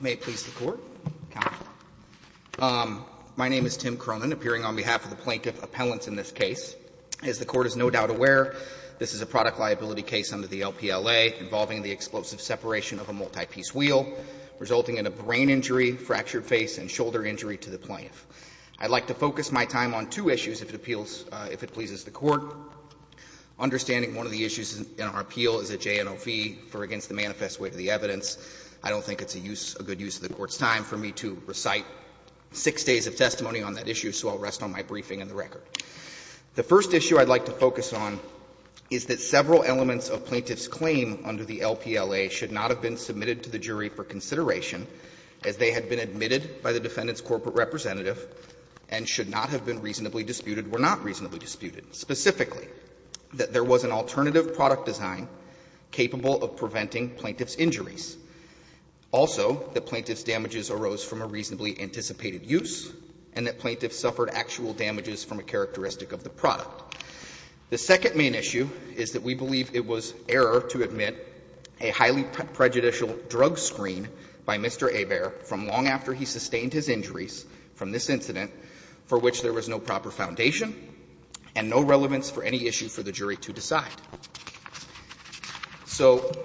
May it please the Court. My name is Tim Cronin, appearing on behalf of the Plaintiff Appellants in this case. As the Court is no doubt aware, this is a product liability case under the LPLA involving the explosive separation of a multi-piece wheel, resulting in a brain injury, fractured face, and shoulder injury to the plaintiff. I'd like to focus my time on two issues if it appeals — if it pleases the Court. Understanding one of the issues in our appeal is a JNLV for against the manifest weight of the evidence, I don't think it's a good use of the Court's time for me to recite six days of testimony on that issue, so I'll rest on my briefing and the record. The first issue I'd like to focus on is that several elements of plaintiff's claim under the LPLA should not have been submitted to the jury for consideration as they had been admitted by the defendant's corporate representative and should not have been reasonably disputed were not reasonably disputed, specifically that there was an alternative product design capable of preventing plaintiff's injuries. Also, the plaintiff's damages arose from a reasonably anticipated use and that plaintiffs suffered actual damages from a characteristic of the product. The second main issue is that we believe it was error to admit a highly prejudicial drug screen by Mr. Hebert from long after he sustained his injuries from this incident for which there was no proper foundation and no relevance for any issue for the jury to decide. So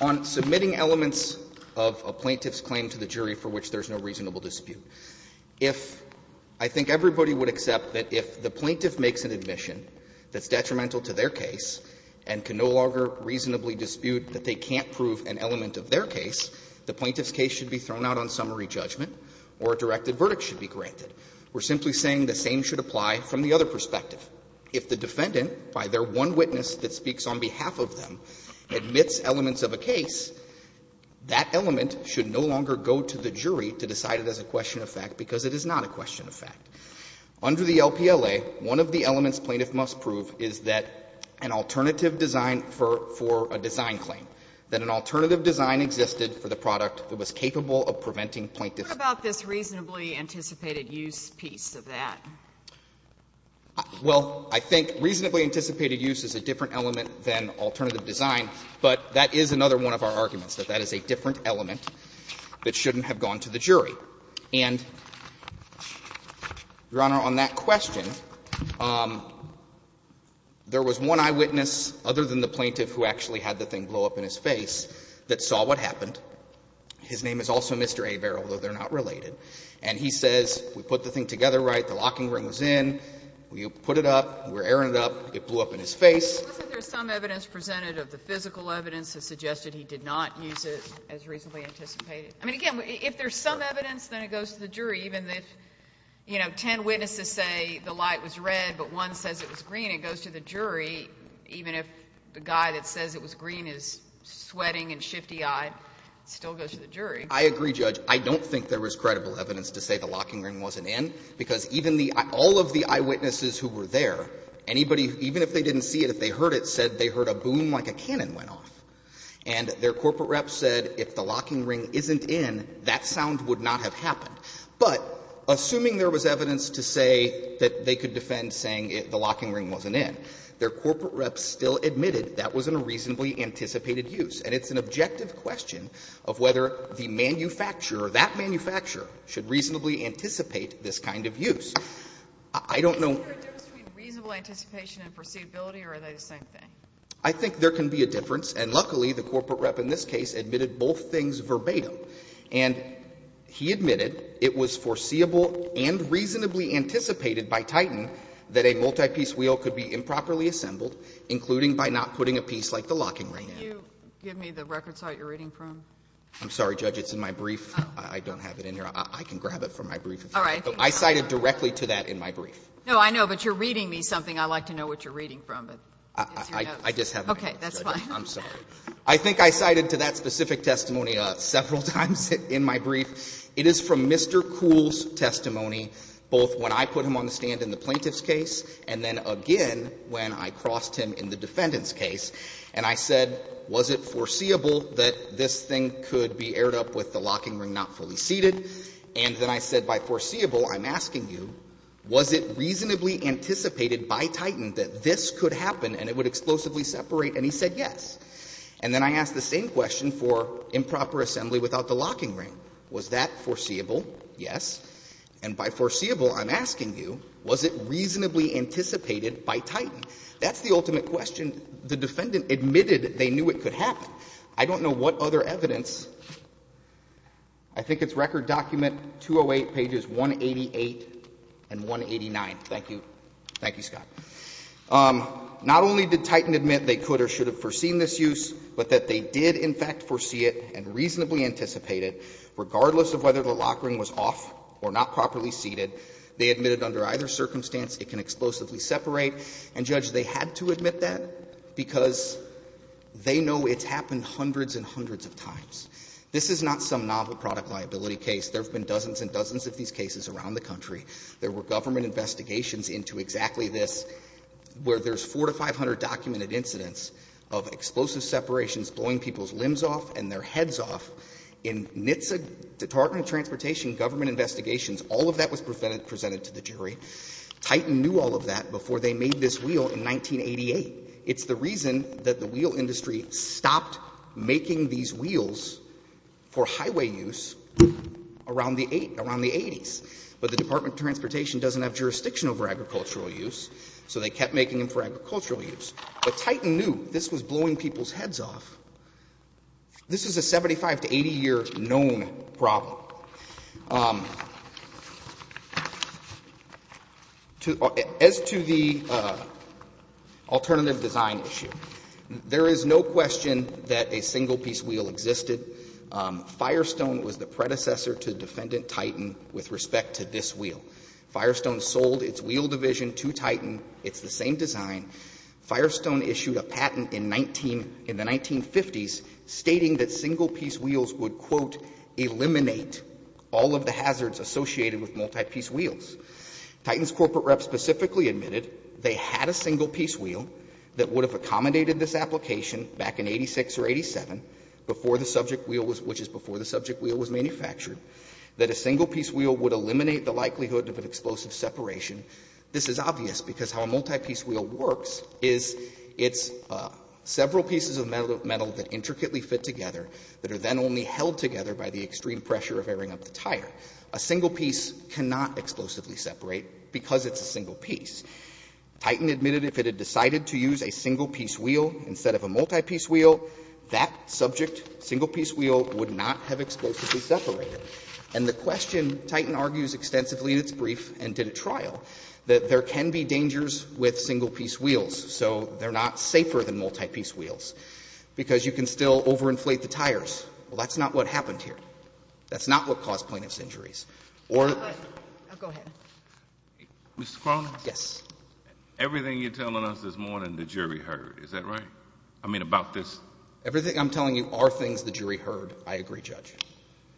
on submitting elements of a plaintiff's claim to the jury for which there's no reasonable dispute, if — I think everybody would accept that if the plaintiff makes an admission that's detrimental to their case and can no longer reasonably dispute that they can't prove an element of their case, the plaintiff's case should be thrown out on summary judgment or a directed verdict should be granted. We're simply saying the same should apply from the other perspective. If the defendant, by their one witness that speaks on behalf of them, admits elements of a case, that element should no longer go to the jury to decide it as a question of fact because it is not a question of fact. Under the LPLA, one of the elements plaintiff must prove is that an alternative design for a design claim, that an alternative design existed for the product that was capable of preventing plaintiff's case. What about this reasonably anticipated use piece of that? Well, I think reasonably anticipated use is a different element than alternative design, but that is another one of our arguments, that that is a different element that shouldn't have gone to the jury. And, Your Honor, on that question, there was one eyewitness other than the plaintiff who actually had the thing blow up in his face that saw what happened. His name is also Mr. Averill, although they're not related. And he says, we put the thing together right, the locking ring was in, we put it up, we're airing it up, it blew up in his face. Wasn't there some evidence presented of the physical evidence that suggested he did not use it as reasonably anticipated? I mean, again, if there's some evidence, then it goes to the jury, even if, you know, ten witnesses say the light was red, but one says it was green, it goes to the jury, even if the guy that says it was green is sweating and shifty-eyed. It still goes to the jury. I agree, Judge. I don't think there was credible evidence to say the locking ring wasn't in, because even the eye – all of the eyewitnesses who were there, anybody, even if they didn't see it, if they heard it, said they heard a boom like a cannon went off. And their corporate reps said if the locking ring isn't in, that sound would not have happened. But assuming there was evidence to say that they could defend saying the locking ring wasn't in, their corporate reps still admitted that wasn't a reasonably anticipated use. And it's an objective question of whether the manufacturer, that manufacturer, should reasonably anticipate this kind of use. I don't know — Are there differences between reasonable anticipation and foreseeability, or are they the same thing? I think there can be a difference. And luckily, the corporate rep in this case admitted both things verbatim. And he admitted it was foreseeable and reasonably anticipated by Titan that a multi-piece wheel could be improperly assembled, including by not putting a piece like the locking ring in. Can you give me the record site you're reading from? I'm sorry, Judge, it's in my brief. I don't have it in here. I can grab it from my brief. All right. I cited directly to that in my brief. No, I know, but you're reading me something. I'd like to know what you're reading from, but it's your notes. I just have my notes, Judge. Okay. That's fine. I'm sorry. I think I cited to that specific testimony several times in my brief. It is from Mr. Kuhl's testimony, both when I put him on the stand in the plaintiff's case and then again when I crossed him in the defendant's case. And I said, was it foreseeable that this thing could be aired up with the locking ring not fully seated? And then I said, by foreseeable, I'm asking you, was it reasonably anticipated by Titan that this could happen and it would explosively separate? And he said yes. And then I asked the same question for improper assembly without the locking ring. Was that foreseeable? Yes. And by foreseeable, I'm asking you, was it reasonably anticipated by Titan? That's the ultimate question. And the defendant admitted they knew it could happen. I don't know what other evidence. I think it's Record Document 208, pages 188 and 189. Thank you. Thank you, Scott. Not only did Titan admit they could or should have foreseen this use, but that they did, in fact, foresee it and reasonably anticipate it, regardless of whether the locking ring was off or not properly seated. They admitted under either circumstance it can explosively separate. And, Judge, they had to admit that because they know it's happened hundreds and hundreds of times. This is not some novel product liability case. There have been dozens and dozens of these cases around the country. There were government investigations into exactly this, where there's 400 to 500 documented incidents of explosive separations blowing people's limbs off and their heads off in NHTSA, Department of Transportation, government investigations. All of that was presented to the jury. Titan knew all of that before they made this wheel in 1988. It's the reason that the wheel industry stopped making these wheels for highway use around the 80s. But the Department of Transportation doesn't have jurisdiction over agricultural use, so they kept making them for agricultural use. But Titan knew this was blowing people's heads off. This is a 75 to 80-year known problem. As to the alternative design issue, there is no question that a single-piece wheel existed. Firestone was the predecessor to defendant Titan with respect to this wheel. Firestone sold its wheel division to Titan. It's the same design. Firestone issued a patent in the 1950s stating that single-piece wheels would, quote, Titan's corporate reps specifically admitted they had a single-piece wheel that would have accommodated this application back in 86 or 87, before the subject wheel was, which is before the subject wheel was manufactured, that a single-piece wheel would eliminate the likelihood of an explosive separation. This is obvious because how a multi-piece wheel works is it's several pieces of metal that intricately fit together that are then only held together by the extreme pressure of airing up the tire. A single piece cannot explosively separate because it's a single piece. Titan admitted if it had decided to use a single-piece wheel instead of a multi-piece wheel, that subject single-piece wheel would not have explosively separated. And the question, Titan argues extensively in its brief and did at trial, that there can be dangers with single-piece wheels, so they're not safer than multi-piece wheels, because you can still overinflate the tires. Well, that's not what happened here. That's not what caused plaintiff's injuries. Or the — I'll go ahead. Mr. Cronin? Yes. Everything you're telling us is more than the jury heard. Is that right? I mean, about this — Everything I'm telling you are things the jury heard. I agree, Judge.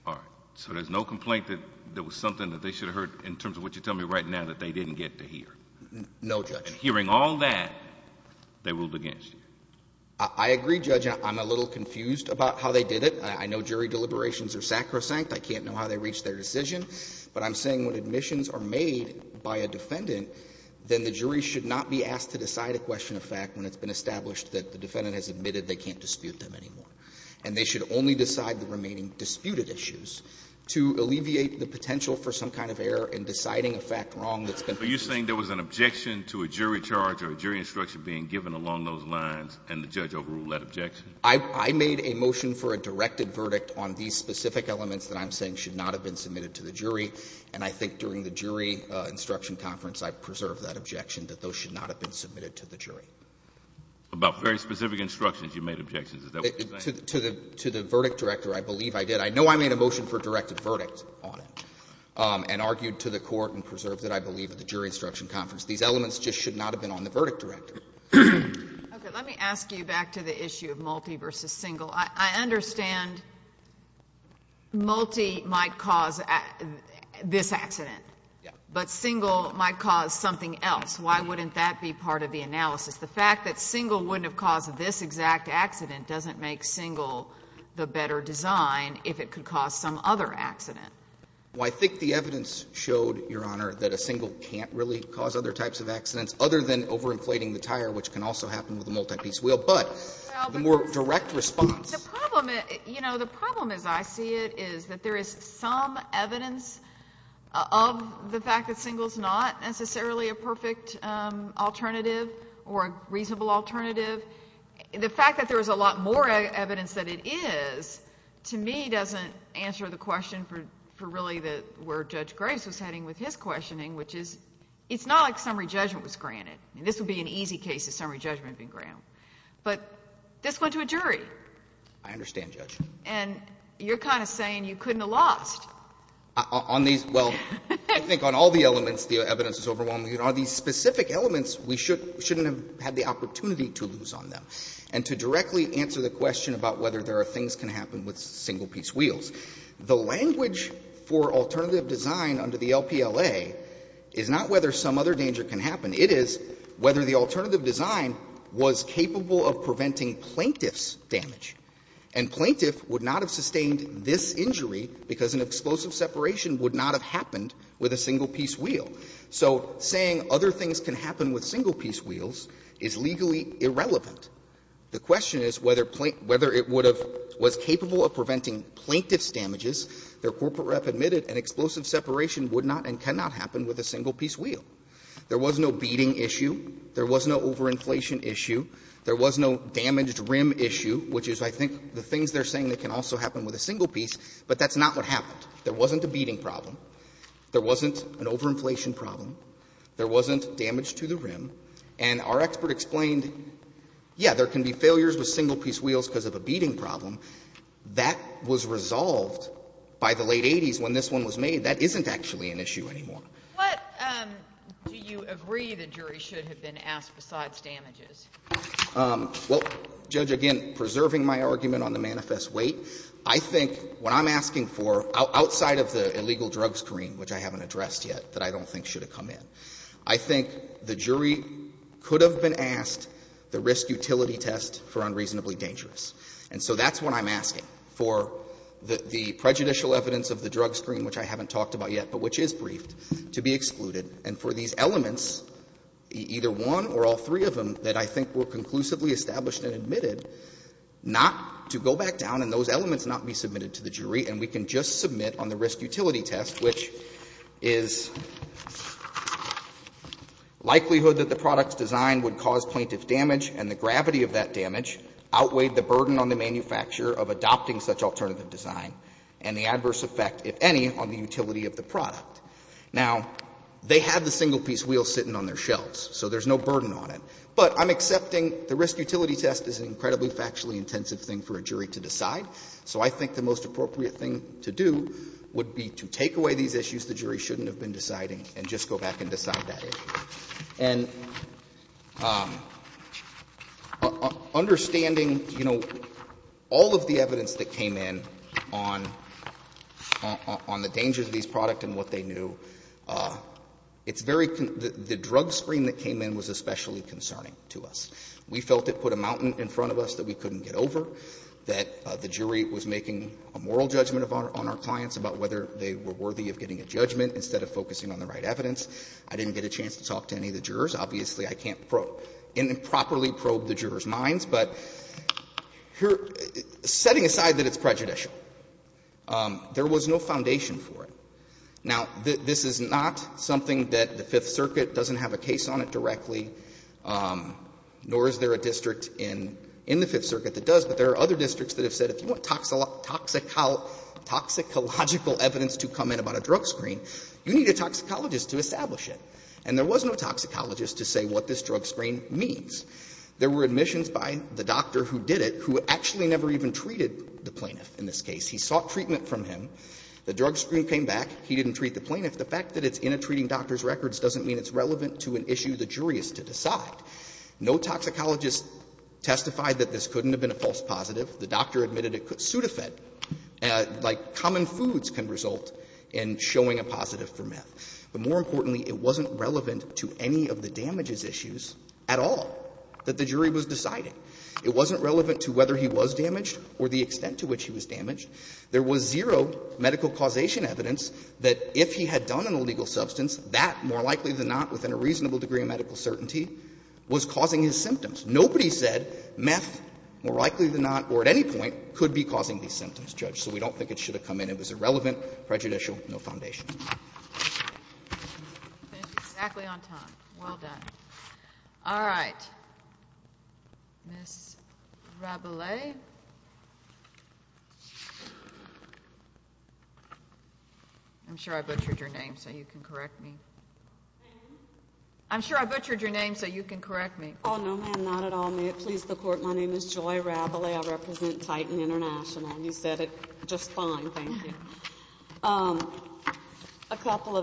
All right. So there's no complaint that there was something that they should have heard in terms of what you're telling me right now that they didn't get to hear? No, Judge. Hearing all that, they ruled against you? I agree, Judge. I'm a little confused about how they did it. I know jury deliberations are sacrosanct. I can't know how they reached their decision. But I'm saying when admissions are made by a defendant, then the jury should not be asked to decide a question of fact when it's been established that the defendant has admitted they can't dispute them anymore. And they should only decide the remaining disputed issues to alleviate the potential for some kind of error in deciding a fact wrong that's been — But you're saying there was an objection to a jury charge or a jury instruction being given along those lines, and the judge overruled that objection? I made a motion for a directed verdict on these specific elements that I'm saying should not have been submitted to the jury. And I think during the jury instruction conference, I preserved that objection, that those should not have been submitted to the jury. About very specific instructions, you made objections. Is that what you're saying? To the verdict director, I believe I did. I know I made a motion for a directed verdict on it and argued to the Court and preserved it, I believe, at the jury instruction conference. These elements just should not have been on the verdict director. Okay. Let me ask you back to the issue of Multi versus Single. I understand Multi might cause this accident. Yeah. But Single might cause something else. Why wouldn't that be part of the analysis? The fact that Single wouldn't have caused this exact accident doesn't make Single the better design if it could cause some other accident. Well, I think the evidence showed, Your Honor, that a Single can't really cause other types of accidents other than overinflating the tire, which can also happen with a multi-piece wheel, but the more direct response. The problem, you know, the problem as I see it is that there is some evidence of the fact that Single's not necessarily a perfect alternative or a reasonable alternative. The fact that there is a lot more evidence that it is, to me, doesn't answer the question for really where Judge Graves was heading with his questioning, which is it's not like summary judgment was granted. This would be an easy case if summary judgment had been granted. But this went to a jury. I understand, Judge. And you're kind of saying you couldn't have lost. On these, well, I think on all the elements, the evidence is overwhelming. On these specific elements, we shouldn't have had the opportunity to lose on them and to directly answer the question about whether there are things that can happen with single-piece wheels. The language for alternative design under the LPLA is not whether some other danger can happen. It is whether the alternative design was capable of preventing plaintiff's damage. And plaintiff would not have sustained this injury because an explosive separation would not have happened with a single-piece wheel. So saying other things can happen with single-piece wheels is legally irrelevant. The question is whether it would have been capable of preventing plaintiff's damages. Their corporate rep admitted an explosive separation would not and cannot happen with a single-piece wheel. There was no beating issue. There was no overinflation issue. There was no damaged rim issue, which is, I think, the things they're saying that can also happen with a single piece, but that's not what happened. There wasn't a beating problem. There wasn't an overinflation problem. There wasn't damage to the rim. And our expert explained, yeah, there can be failures with single-piece wheels because of a beating problem. That was resolved by the late 80s when this one was made. That isn't actually an issue anymore. What do you agree the jury should have been asked besides damages? Well, Judge, again, preserving my argument on the manifest weight, I think what I'm asking for outside of the illegal drug screen, which I haven't addressed yet, that I don't think should have come in. I think the jury could have been asked the risk-utility test for unreasonably dangerous. And so that's what I'm asking for the prejudicial evidence of the drug screen, which I haven't talked about yet, but which is briefed, to be excluded. And for these elements, either one or all three of them, that I think were conclusively established and admitted, not to go back down and those elements not be submitted to the jury. And we can just submit on the risk-utility test, which is likelihood that the product's design would cause plaintiff damage and the gravity of that damage outweighed the burden on the manufacturer of adopting such alternative design and the adverse effect, if any, on the utility of the product. Now, they had the single-piece wheel sitting on their shelves, so there's no burden on it. But I'm accepting the risk-utility test is an incredibly factually intensive thing for a jury to decide. So I think the most appropriate thing to do would be to take away these issues the jury shouldn't have been deciding and just go back and decide that issue. And understanding, you know, all of the evidence that came in on the dangers of this product and what they knew, it's very — the drug screen that came in was especially concerning to us. We felt it put a mountain in front of us that we couldn't get over, that the jury was making a moral judgment on our clients about whether they were worthy of getting a judgment instead of focusing on the right evidence. I didn't get a chance to talk to any of the jurors. Obviously, I can't improperly probe the jurors' minds. But setting aside that it's prejudicial, there was no foundation for it. Now, this is not something that the Fifth Circuit doesn't have a case on it directly. Nor is there a district in the Fifth Circuit that does. But there are other districts that have said if you want toxicological evidence to come in about a drug screen, you need a toxicologist to establish it. And there was no toxicologist to say what this drug screen means. There were admissions by the doctor who did it who actually never even treated the plaintiff in this case. He sought treatment from him. The drug screen came back. He didn't treat the plaintiff. The fact that it's in a treating doctor's records doesn't mean it's relevant to an issue the jury is to decide. No toxicologist testified that this couldn't have been a false positive. The doctor admitted it could pseudofed, like common foods can result in showing a positive for meth. But more importantly, it wasn't relevant to any of the damages issues at all that the jury was deciding. It wasn't relevant to whether he was damaged or the extent to which he was damaged. There was zero medical causation evidence that if he had done an illegal substance, that, more likely than not, within a reasonable degree of medical certainty, was causing his symptoms. Nobody said meth, more likely than not, or at any point, could be causing these symptoms, Judge. So we don't think it should have come in. It was irrelevant, prejudicial, no foundation. Kagan. Exactly on time. Well done. All right. Ms. Rabelais. I'm sure I butchered your name so you can correct me. I'm sure I butchered your name so you can correct me. Oh, no, ma'am. Not at all. May it please the Court. My name is Joy Rabelais. I represent Titan International. You said it just fine. Thank you. A couple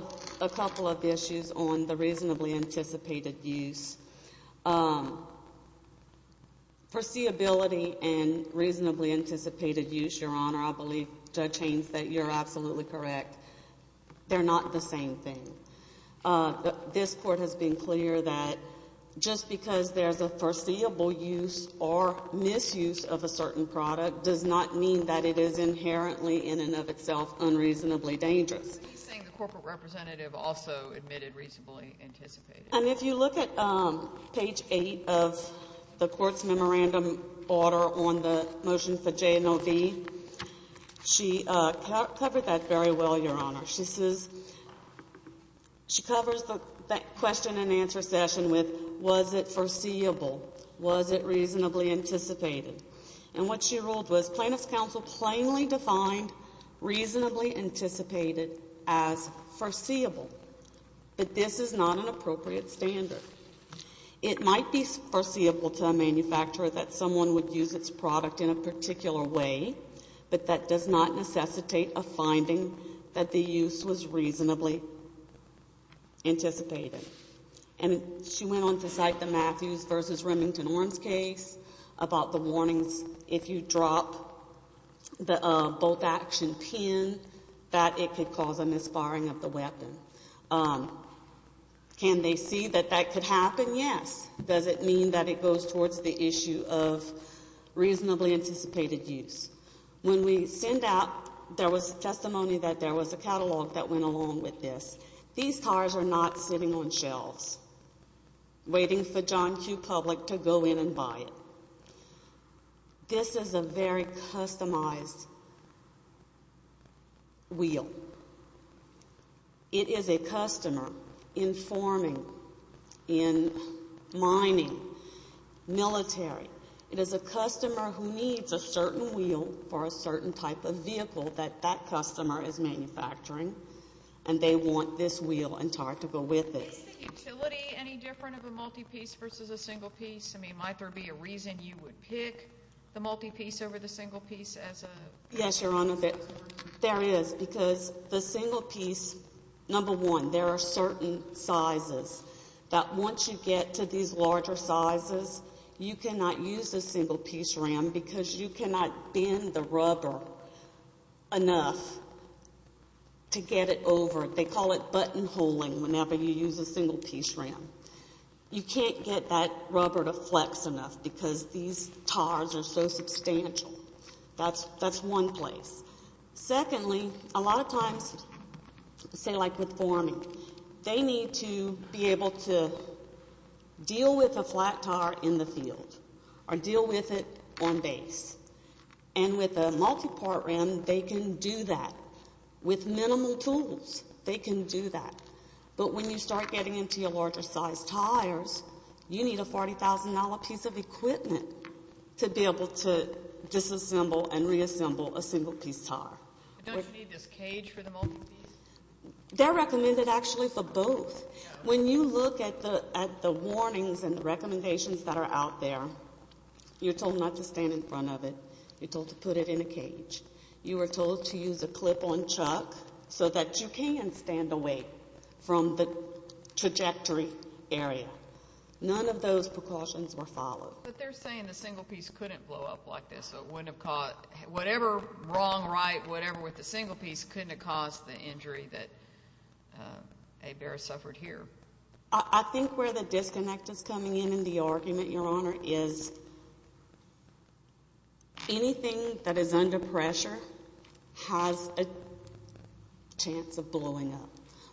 of issues on the reasonably anticipated use. Perceivability and reasonably anticipated use, Your Honor. I believe, Judge Haynes, that you're absolutely correct. They're not the same thing. This Court has been clear that just because there's a foreseeable use or misuse of a certain product does not mean that it is inherently, in and of itself, unreasonably dangerous. Are you saying the corporate representative also admitted reasonably anticipated use? And if you look at page 8 of the Court's memorandum order on the motion for JMOV, she covered that very well, Your Honor. She says she covers that question and answer session with was it foreseeable? Was it reasonably anticipated? And what she ruled was plaintiff's counsel plainly defined reasonably anticipated as foreseeable. But this is not an appropriate standard. It might be foreseeable to a manufacturer that someone would use its product in a particular way, but that does not necessitate a finding that the use was reasonably anticipated. And she went on to cite the Matthews v. Remington Orange case about the warnings if you drop the bolt action pin that it could cause a misfiring of the weapon. Can they see that that could happen? Yes. Does it mean that it goes towards the issue of reasonably anticipated use? When we send out, there was testimony that there was a catalog that went along with this. These cars are not sitting on shelves waiting for John Q. Public to go in and buy it. This is a very customized wheel. It is a customer in forming, in mining, military. It is a customer who needs a certain wheel for a certain type of vehicle that that customer is manufacturing, and they want this wheel and tire to go with it. Is the utility any different of a multi-piece versus a single piece? I mean, might there be a reason you would pick the multi-piece over the single piece as a? Yes, Your Honor. There is, because the single piece, number one, there are certain sizes that once you get to these larger sizes, you cannot use a single piece ram because you cannot bend the rubber enough to get it over. They call it buttonholing whenever you use a single piece ram. You can't get that rubber to flex enough because these tires are so substantial. That is one place. Secondly, a lot of times, say like with forming, they need to be able to deal with a flat tire in the field or deal with it on base. And with a multi-part ram, they can do that. With minimal tools, they can do that. But when you start getting into your larger size tires, you need a $40,000 piece of equipment to be able to disassemble and reassemble a single piece tire. Don't you need this cage for the multi-piece? They're recommended actually for both. When you look at the warnings and recommendations that are out there, you're told not to stand in front of it. You're told to put it in a cage. You are told to use a clip-on chuck so that you can stand away from the trajectory area. None of those precautions were followed. But they're saying the single piece couldn't blow up like this. Whatever wrong, right, whatever with the single piece couldn't have caused the injury that a bear suffered here. I think where the disconnect is coming in in the argument, Your Honor, is anything that is under pressure has a chance of blowing up.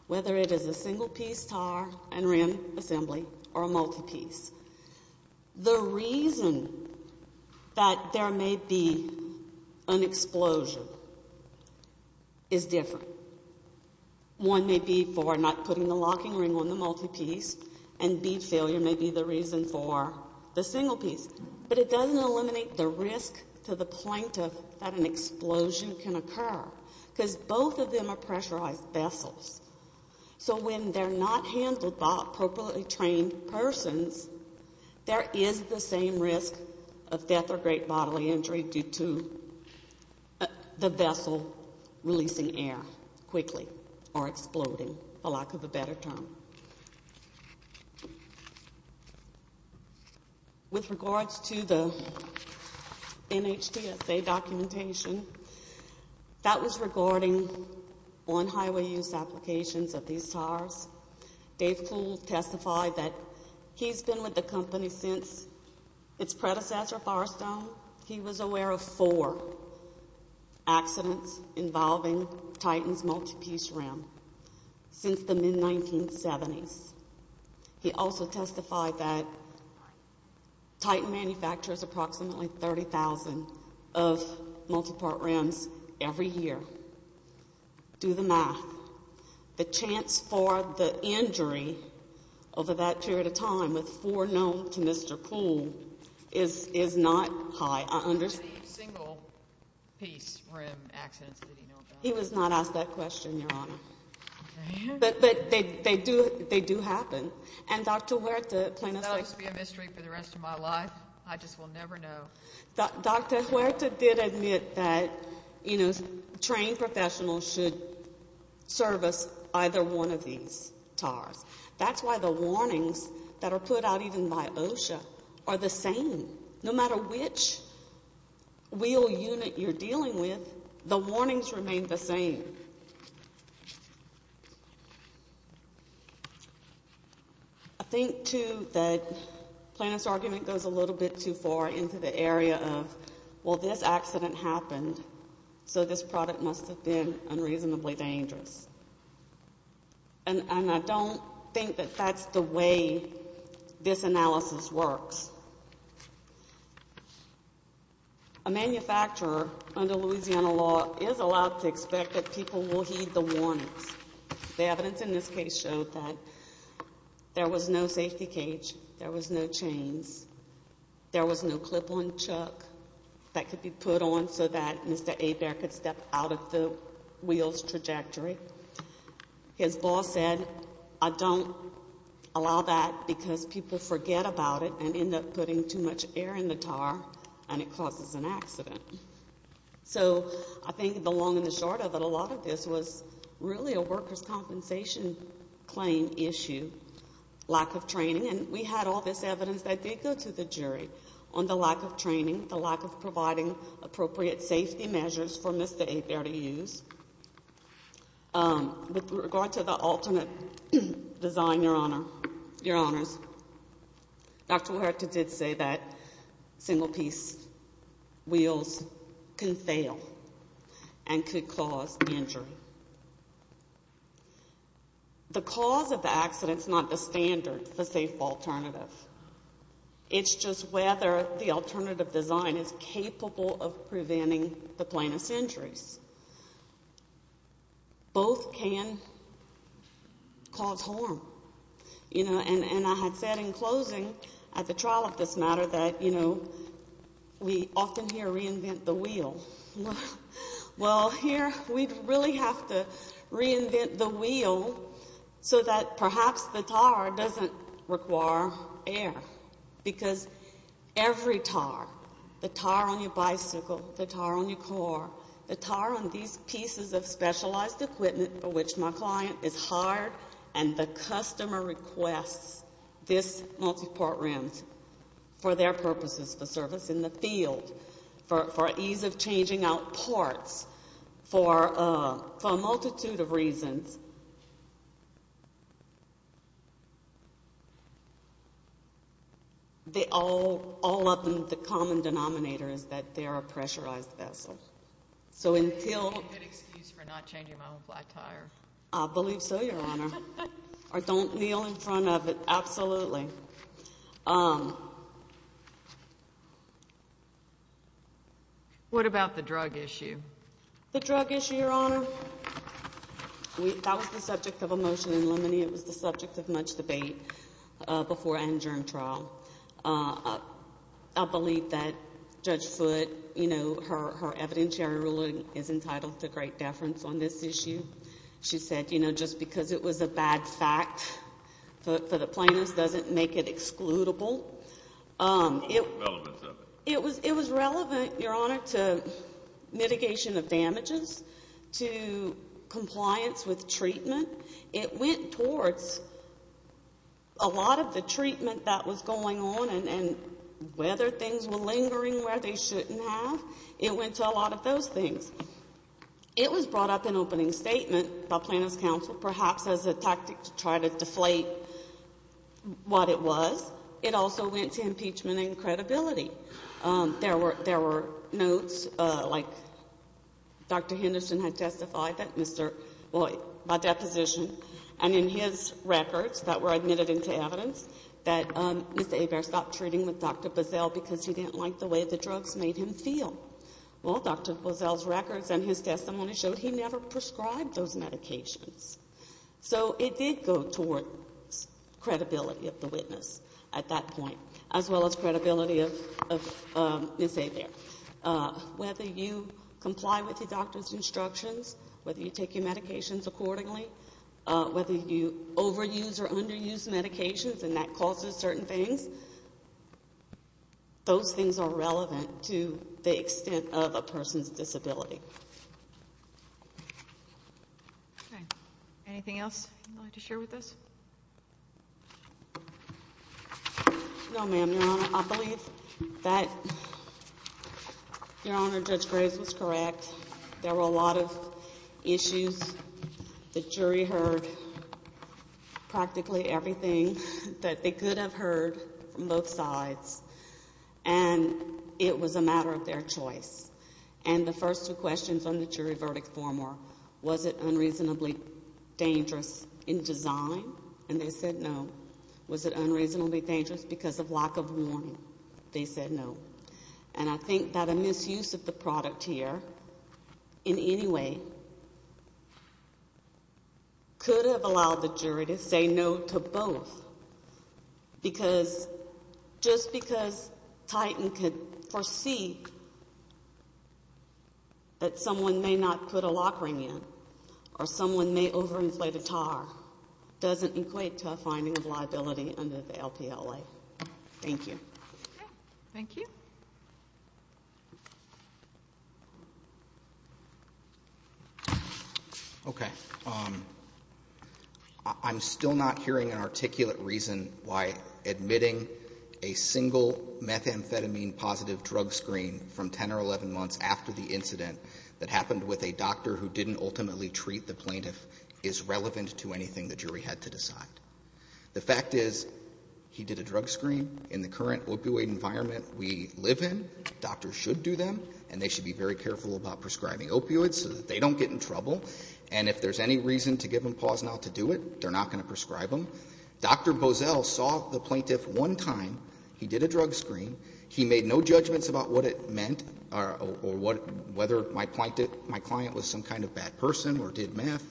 Whether it is a single piece tire and ram assembly or a multi-piece. The reason that there may be an explosion is different. One may be for not putting the locking ring on the multi-piece and bead failure may be the reason for the single piece. But it doesn't eliminate the risk to the point of that an explosion can occur because both of them are pressurized vessels. So when they're not handled by appropriately trained persons, there is the same risk of death or great bodily injury due to the vessel releasing air quickly or exploding, for lack of a better term. With regards to the NHTSA documentation, that was regarding on-highway use applications of these tires. Dave Poole testified that he's been with the company since its predecessor, Firestone. He was aware of four accidents involving Titan's multi-piece ram since the mid-1970s. He also testified that Titan manufactures approximately 30,000 of multi-part rams every year. Do the math. The chance for the injury over that period of time, with four known to Mr. Poole, is not high. I understand. How many single-piece ram accidents did he know about? He was not asked that question, Your Honor. But they do happen. And Dr. Huerta, plaintiff's like- Is that supposed to be a mystery for the rest of my life? I just will never know. Dr. Huerta did admit that, you know, trained professionals should service either one of these tires. That's why the warnings that are put out even by OSHA are the same. No matter which wheel unit you're dealing with, the warnings remain the same. I think, too, that plaintiff's argument goes a little bit too far into the area of, well, this accident happened, so this product must have been unreasonably dangerous. And I don't think that that's the way this analysis works. A manufacturer under Louisiana law is allowed to expect that people will heed the warnings. The evidence in this case showed that there was no safety cage, there was no chains, there was no clip-on chuck that could be put on so that Mr. Abare could step out of the wheel's trajectory. His boss said, I don't allow that because people forget about it and end up thinking putting too much air in the tire and it causes an accident. So I think the long and the short of it, a lot of this was really a workers' compensation claim issue, lack of training. And we had all this evidence that did go to the jury on the lack of training, the lack of providing appropriate safety measures for Mr. Abare to use. With regard to the alternate design, Your Honors, Dr. Huerta did say that single-piece wheels can fail and could cause injury. The cause of the accident is not the standard, the safe alternative. It's just whether the alternative design is capable of preventing the plaintiff's injuries. Both can cause harm, you know, and I had said in closing at the trial of this matter that, you know, we often hear reinvent the wheel. Well, here we really have to reinvent the wheel so that perhaps the tire doesn't require air because every tire, the tire on your bicycle, the tire on your car, the tire on your bike, the tire on these pieces of specialized equipment for which my client is hired and the customer requests this multiport rims for their purposes, for service in the field, for ease of changing out parts, for a multitude of reasons, they all, all of them, the common denominator is that they're a pressurized vessel. So until... That's a good excuse for not changing my own black tire. I believe so, Your Honor, or don't kneel in front of it, absolutely. What about the drug issue? The drug issue, Your Honor, that was the subject of a motion in limine. It was the subject of much debate before and during trial. I believe that Judge Foote, you know, her evidentiary ruling is entitled to great deference on this issue. She said, you know, just because it was a bad fact for the plaintiffs doesn't make it excludable. It was relevant, Your Honor, to mitigation of damages, to compliance with treatment. It went towards a lot of the treatment that was going on and whether things were lingering where they shouldn't have. It went to a lot of those things. It was brought up in opening statement by plaintiff's counsel, perhaps as a tactic to try to deflate what it was. It also went to impeachment and credibility. There were notes like Dr. Henderson had testified by deposition and in his records that were admitted into evidence that Mr. Hebert stopped treating with Dr. Boesel because he didn't like the way the drugs made him feel. Well, Dr. Boesel's records and his testimony showed he never prescribed those medications. So it did go towards credibility of the witness at that point as well as credibility of Ms. Hebert. Whether you comply with your doctor's instructions, whether you take your medications accordingly, whether you overuse or underuse medications and that causes certain things, those things are relevant to the extent of a person's disability. Okay. Anything else you'd like to share with us? No, ma'am, Your Honor. I believe that, Your Honor, Judge Graves was correct. There were a lot of issues. The jury heard practically everything that they could have heard from both sides and it was a matter of their choice. And the first two questions on the jury verdict form were, was it unreasonably dangerous in design? And they said no. Was it unreasonably dangerous because of lack of warning? They said no. And I think that a misuse of the product here in any way could have allowed the jury to say no to both. Because, just because Titan could foresee that someone may not put a lock ring in or someone may overinflate a tar doesn't equate to a finding of liability under the LPLA. Thank you. Thank you. Okay. I'm still not hearing an articulate reason why admitting a single methamphetamine positive drug screen from 10 or 11 months after the incident that happened with a doctor who didn't ultimately treat the plaintiff is relevant to anything the jury had to decide. The fact is, he did a drug screen. In the current opioid environment we live in, doctors should do them and they should be very careful about prescribing opioids so that they don't get in trouble. And if there's any reason to give them pause now to do it, they're not going to prescribe them. Dr. Boesel saw the plaintiff one time. He did a drug screen. He made no judgments about what it meant or whether my client was some kind of bad person or did meth.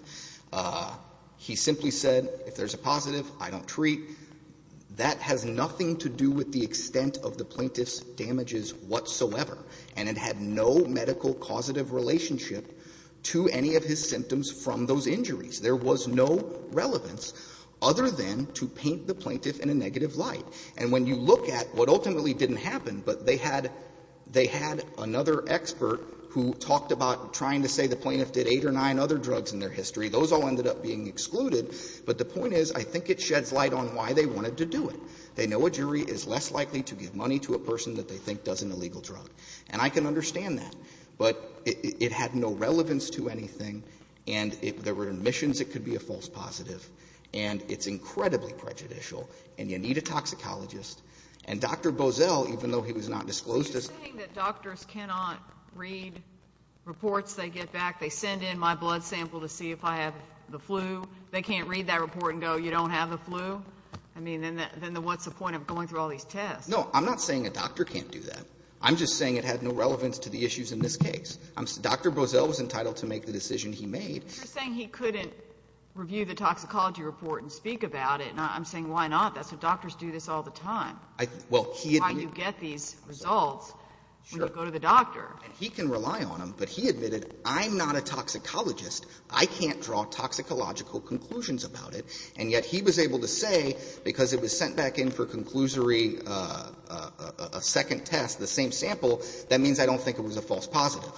He simply said, if there's a positive, I don't treat. That has nothing to do with the extent of the plaintiff's damages whatsoever. And it had no medical causative relationship to any of his symptoms from those injuries. There was no relevance other than to paint the plaintiff in a negative light. And when you look at what ultimately didn't happen, but they had another expert who talked about trying to say the plaintiff did eight or nine other drugs in their history, those all ended up being excluded. But the point is, I think it sheds light on why they wanted to do it. They know a jury is less likely to give money to a person that they think does an illegal drug. And I can understand that. But it had no relevance to anything. And if there were admissions, it could be a false positive. And it's incredibly prejudicial. And you need a toxicologist. And Dr. Boesel, even though he was not disclosed as — You're saying that doctors cannot read reports they get back? They send in my blood sample to see if I have the flu. They can't read that report and go, you don't have the flu? I mean, then what's the point of going through all these tests? No. I'm not saying a doctor can't do that. I'm just saying it had no relevance to the issues in this case. Dr. Boesel was entitled to make the decision he made. You're saying he couldn't review the toxicology report and speak about it. And I'm saying, why not? That's what doctors do this all the time. Well, he — Why do you get these results when you go to the doctor? And he can rely on them. But he admitted, I'm not a toxicologist. I can't draw toxicological conclusions about it. And yet he was able to say, because it was sent back in for conclusory, a second test, the same sample, that means I don't think it was a false positive.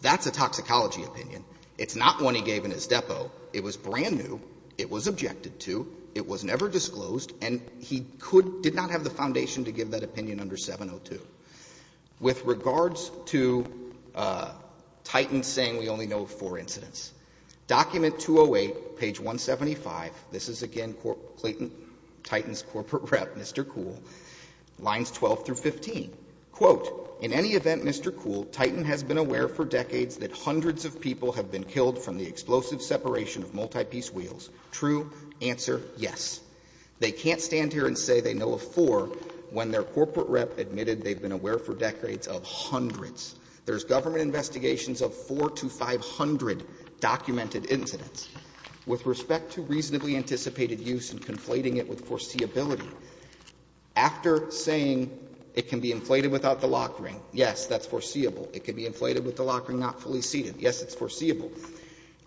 That's a toxicology opinion. It's not one he gave in his depot. It was brand new. It was objected to. It was never disclosed. And he could — did not have the foundation to give that opinion under 702. With regards to Titan saying we only know four incidents, document 208, page 175 — this is, again, Clayton — Titan's corporate rep, Mr. Kuhl, lines 12 through 15. Quote, in any event, Mr. Kuhl, Titan has been aware for decades that hundreds of people have been killed from the explosive separation of multi-piece wheels. True? Answer, yes. They can't stand here and say they know of four when their corporate rep admitted they've been aware for decades of hundreds. There's government investigations of 400 to 500 documented incidents. With respect to reasonably anticipated use and conflating it with foreseeability, after saying it can be inflated without the lock ring, yes, that's foreseeable. It can be inflated with the lock ring not fully seated. Yes, it's foreseeable.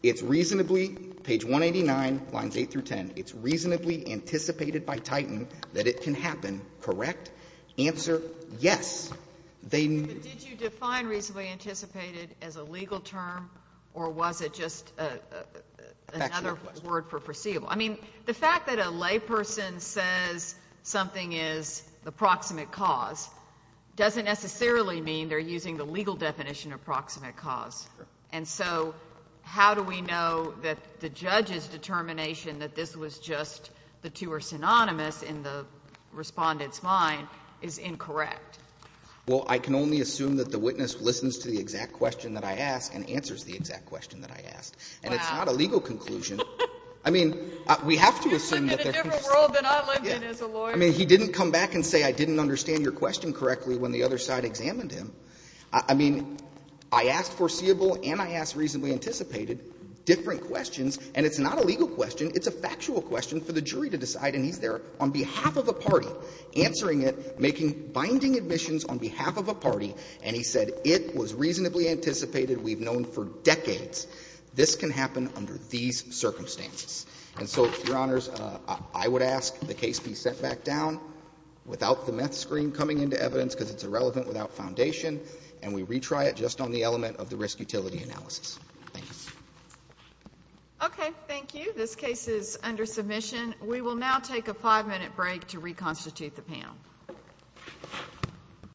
It's reasonably — page 189, lines 8 through 10 — it's reasonably anticipated by Titan that it can happen. Correct? Answer, yes. They — Was it defined reasonably anticipated as a legal term, or was it just another word for foreseeable? I mean, the fact that a layperson says something is the proximate cause doesn't necessarily mean they're using the legal definition of proximate cause. And so how do we know that the judge's determination that this was just the two were synonymous in the respondent's mind is incorrect? Well, I can only assume that the witness listens to the exact question that I ask and answers the exact question that I ask. Wow. And it's not a legal conclusion. I mean, we have to assume that they're — You live in a different world than I live in as a lawyer. I mean, he didn't come back and say, I didn't understand your question correctly when the other side examined him. I mean, I asked foreseeable and I asked reasonably anticipated different questions, and it's not a legal question. It's a factual question for the jury to decide, and he's there on behalf of a party answering it, making — binding admissions on behalf of a party, and he said it was reasonably anticipated, we've known for decades. This can happen under these circumstances. And so, Your Honors, I would ask the case be set back down without the meth screen coming into evidence because it's irrelevant without foundation, and we retry it just on the element of the risk-utility analysis. Thank you. Okay. Thank you. This case is under submission. We will now take a five-minute break to reconstitute the panel.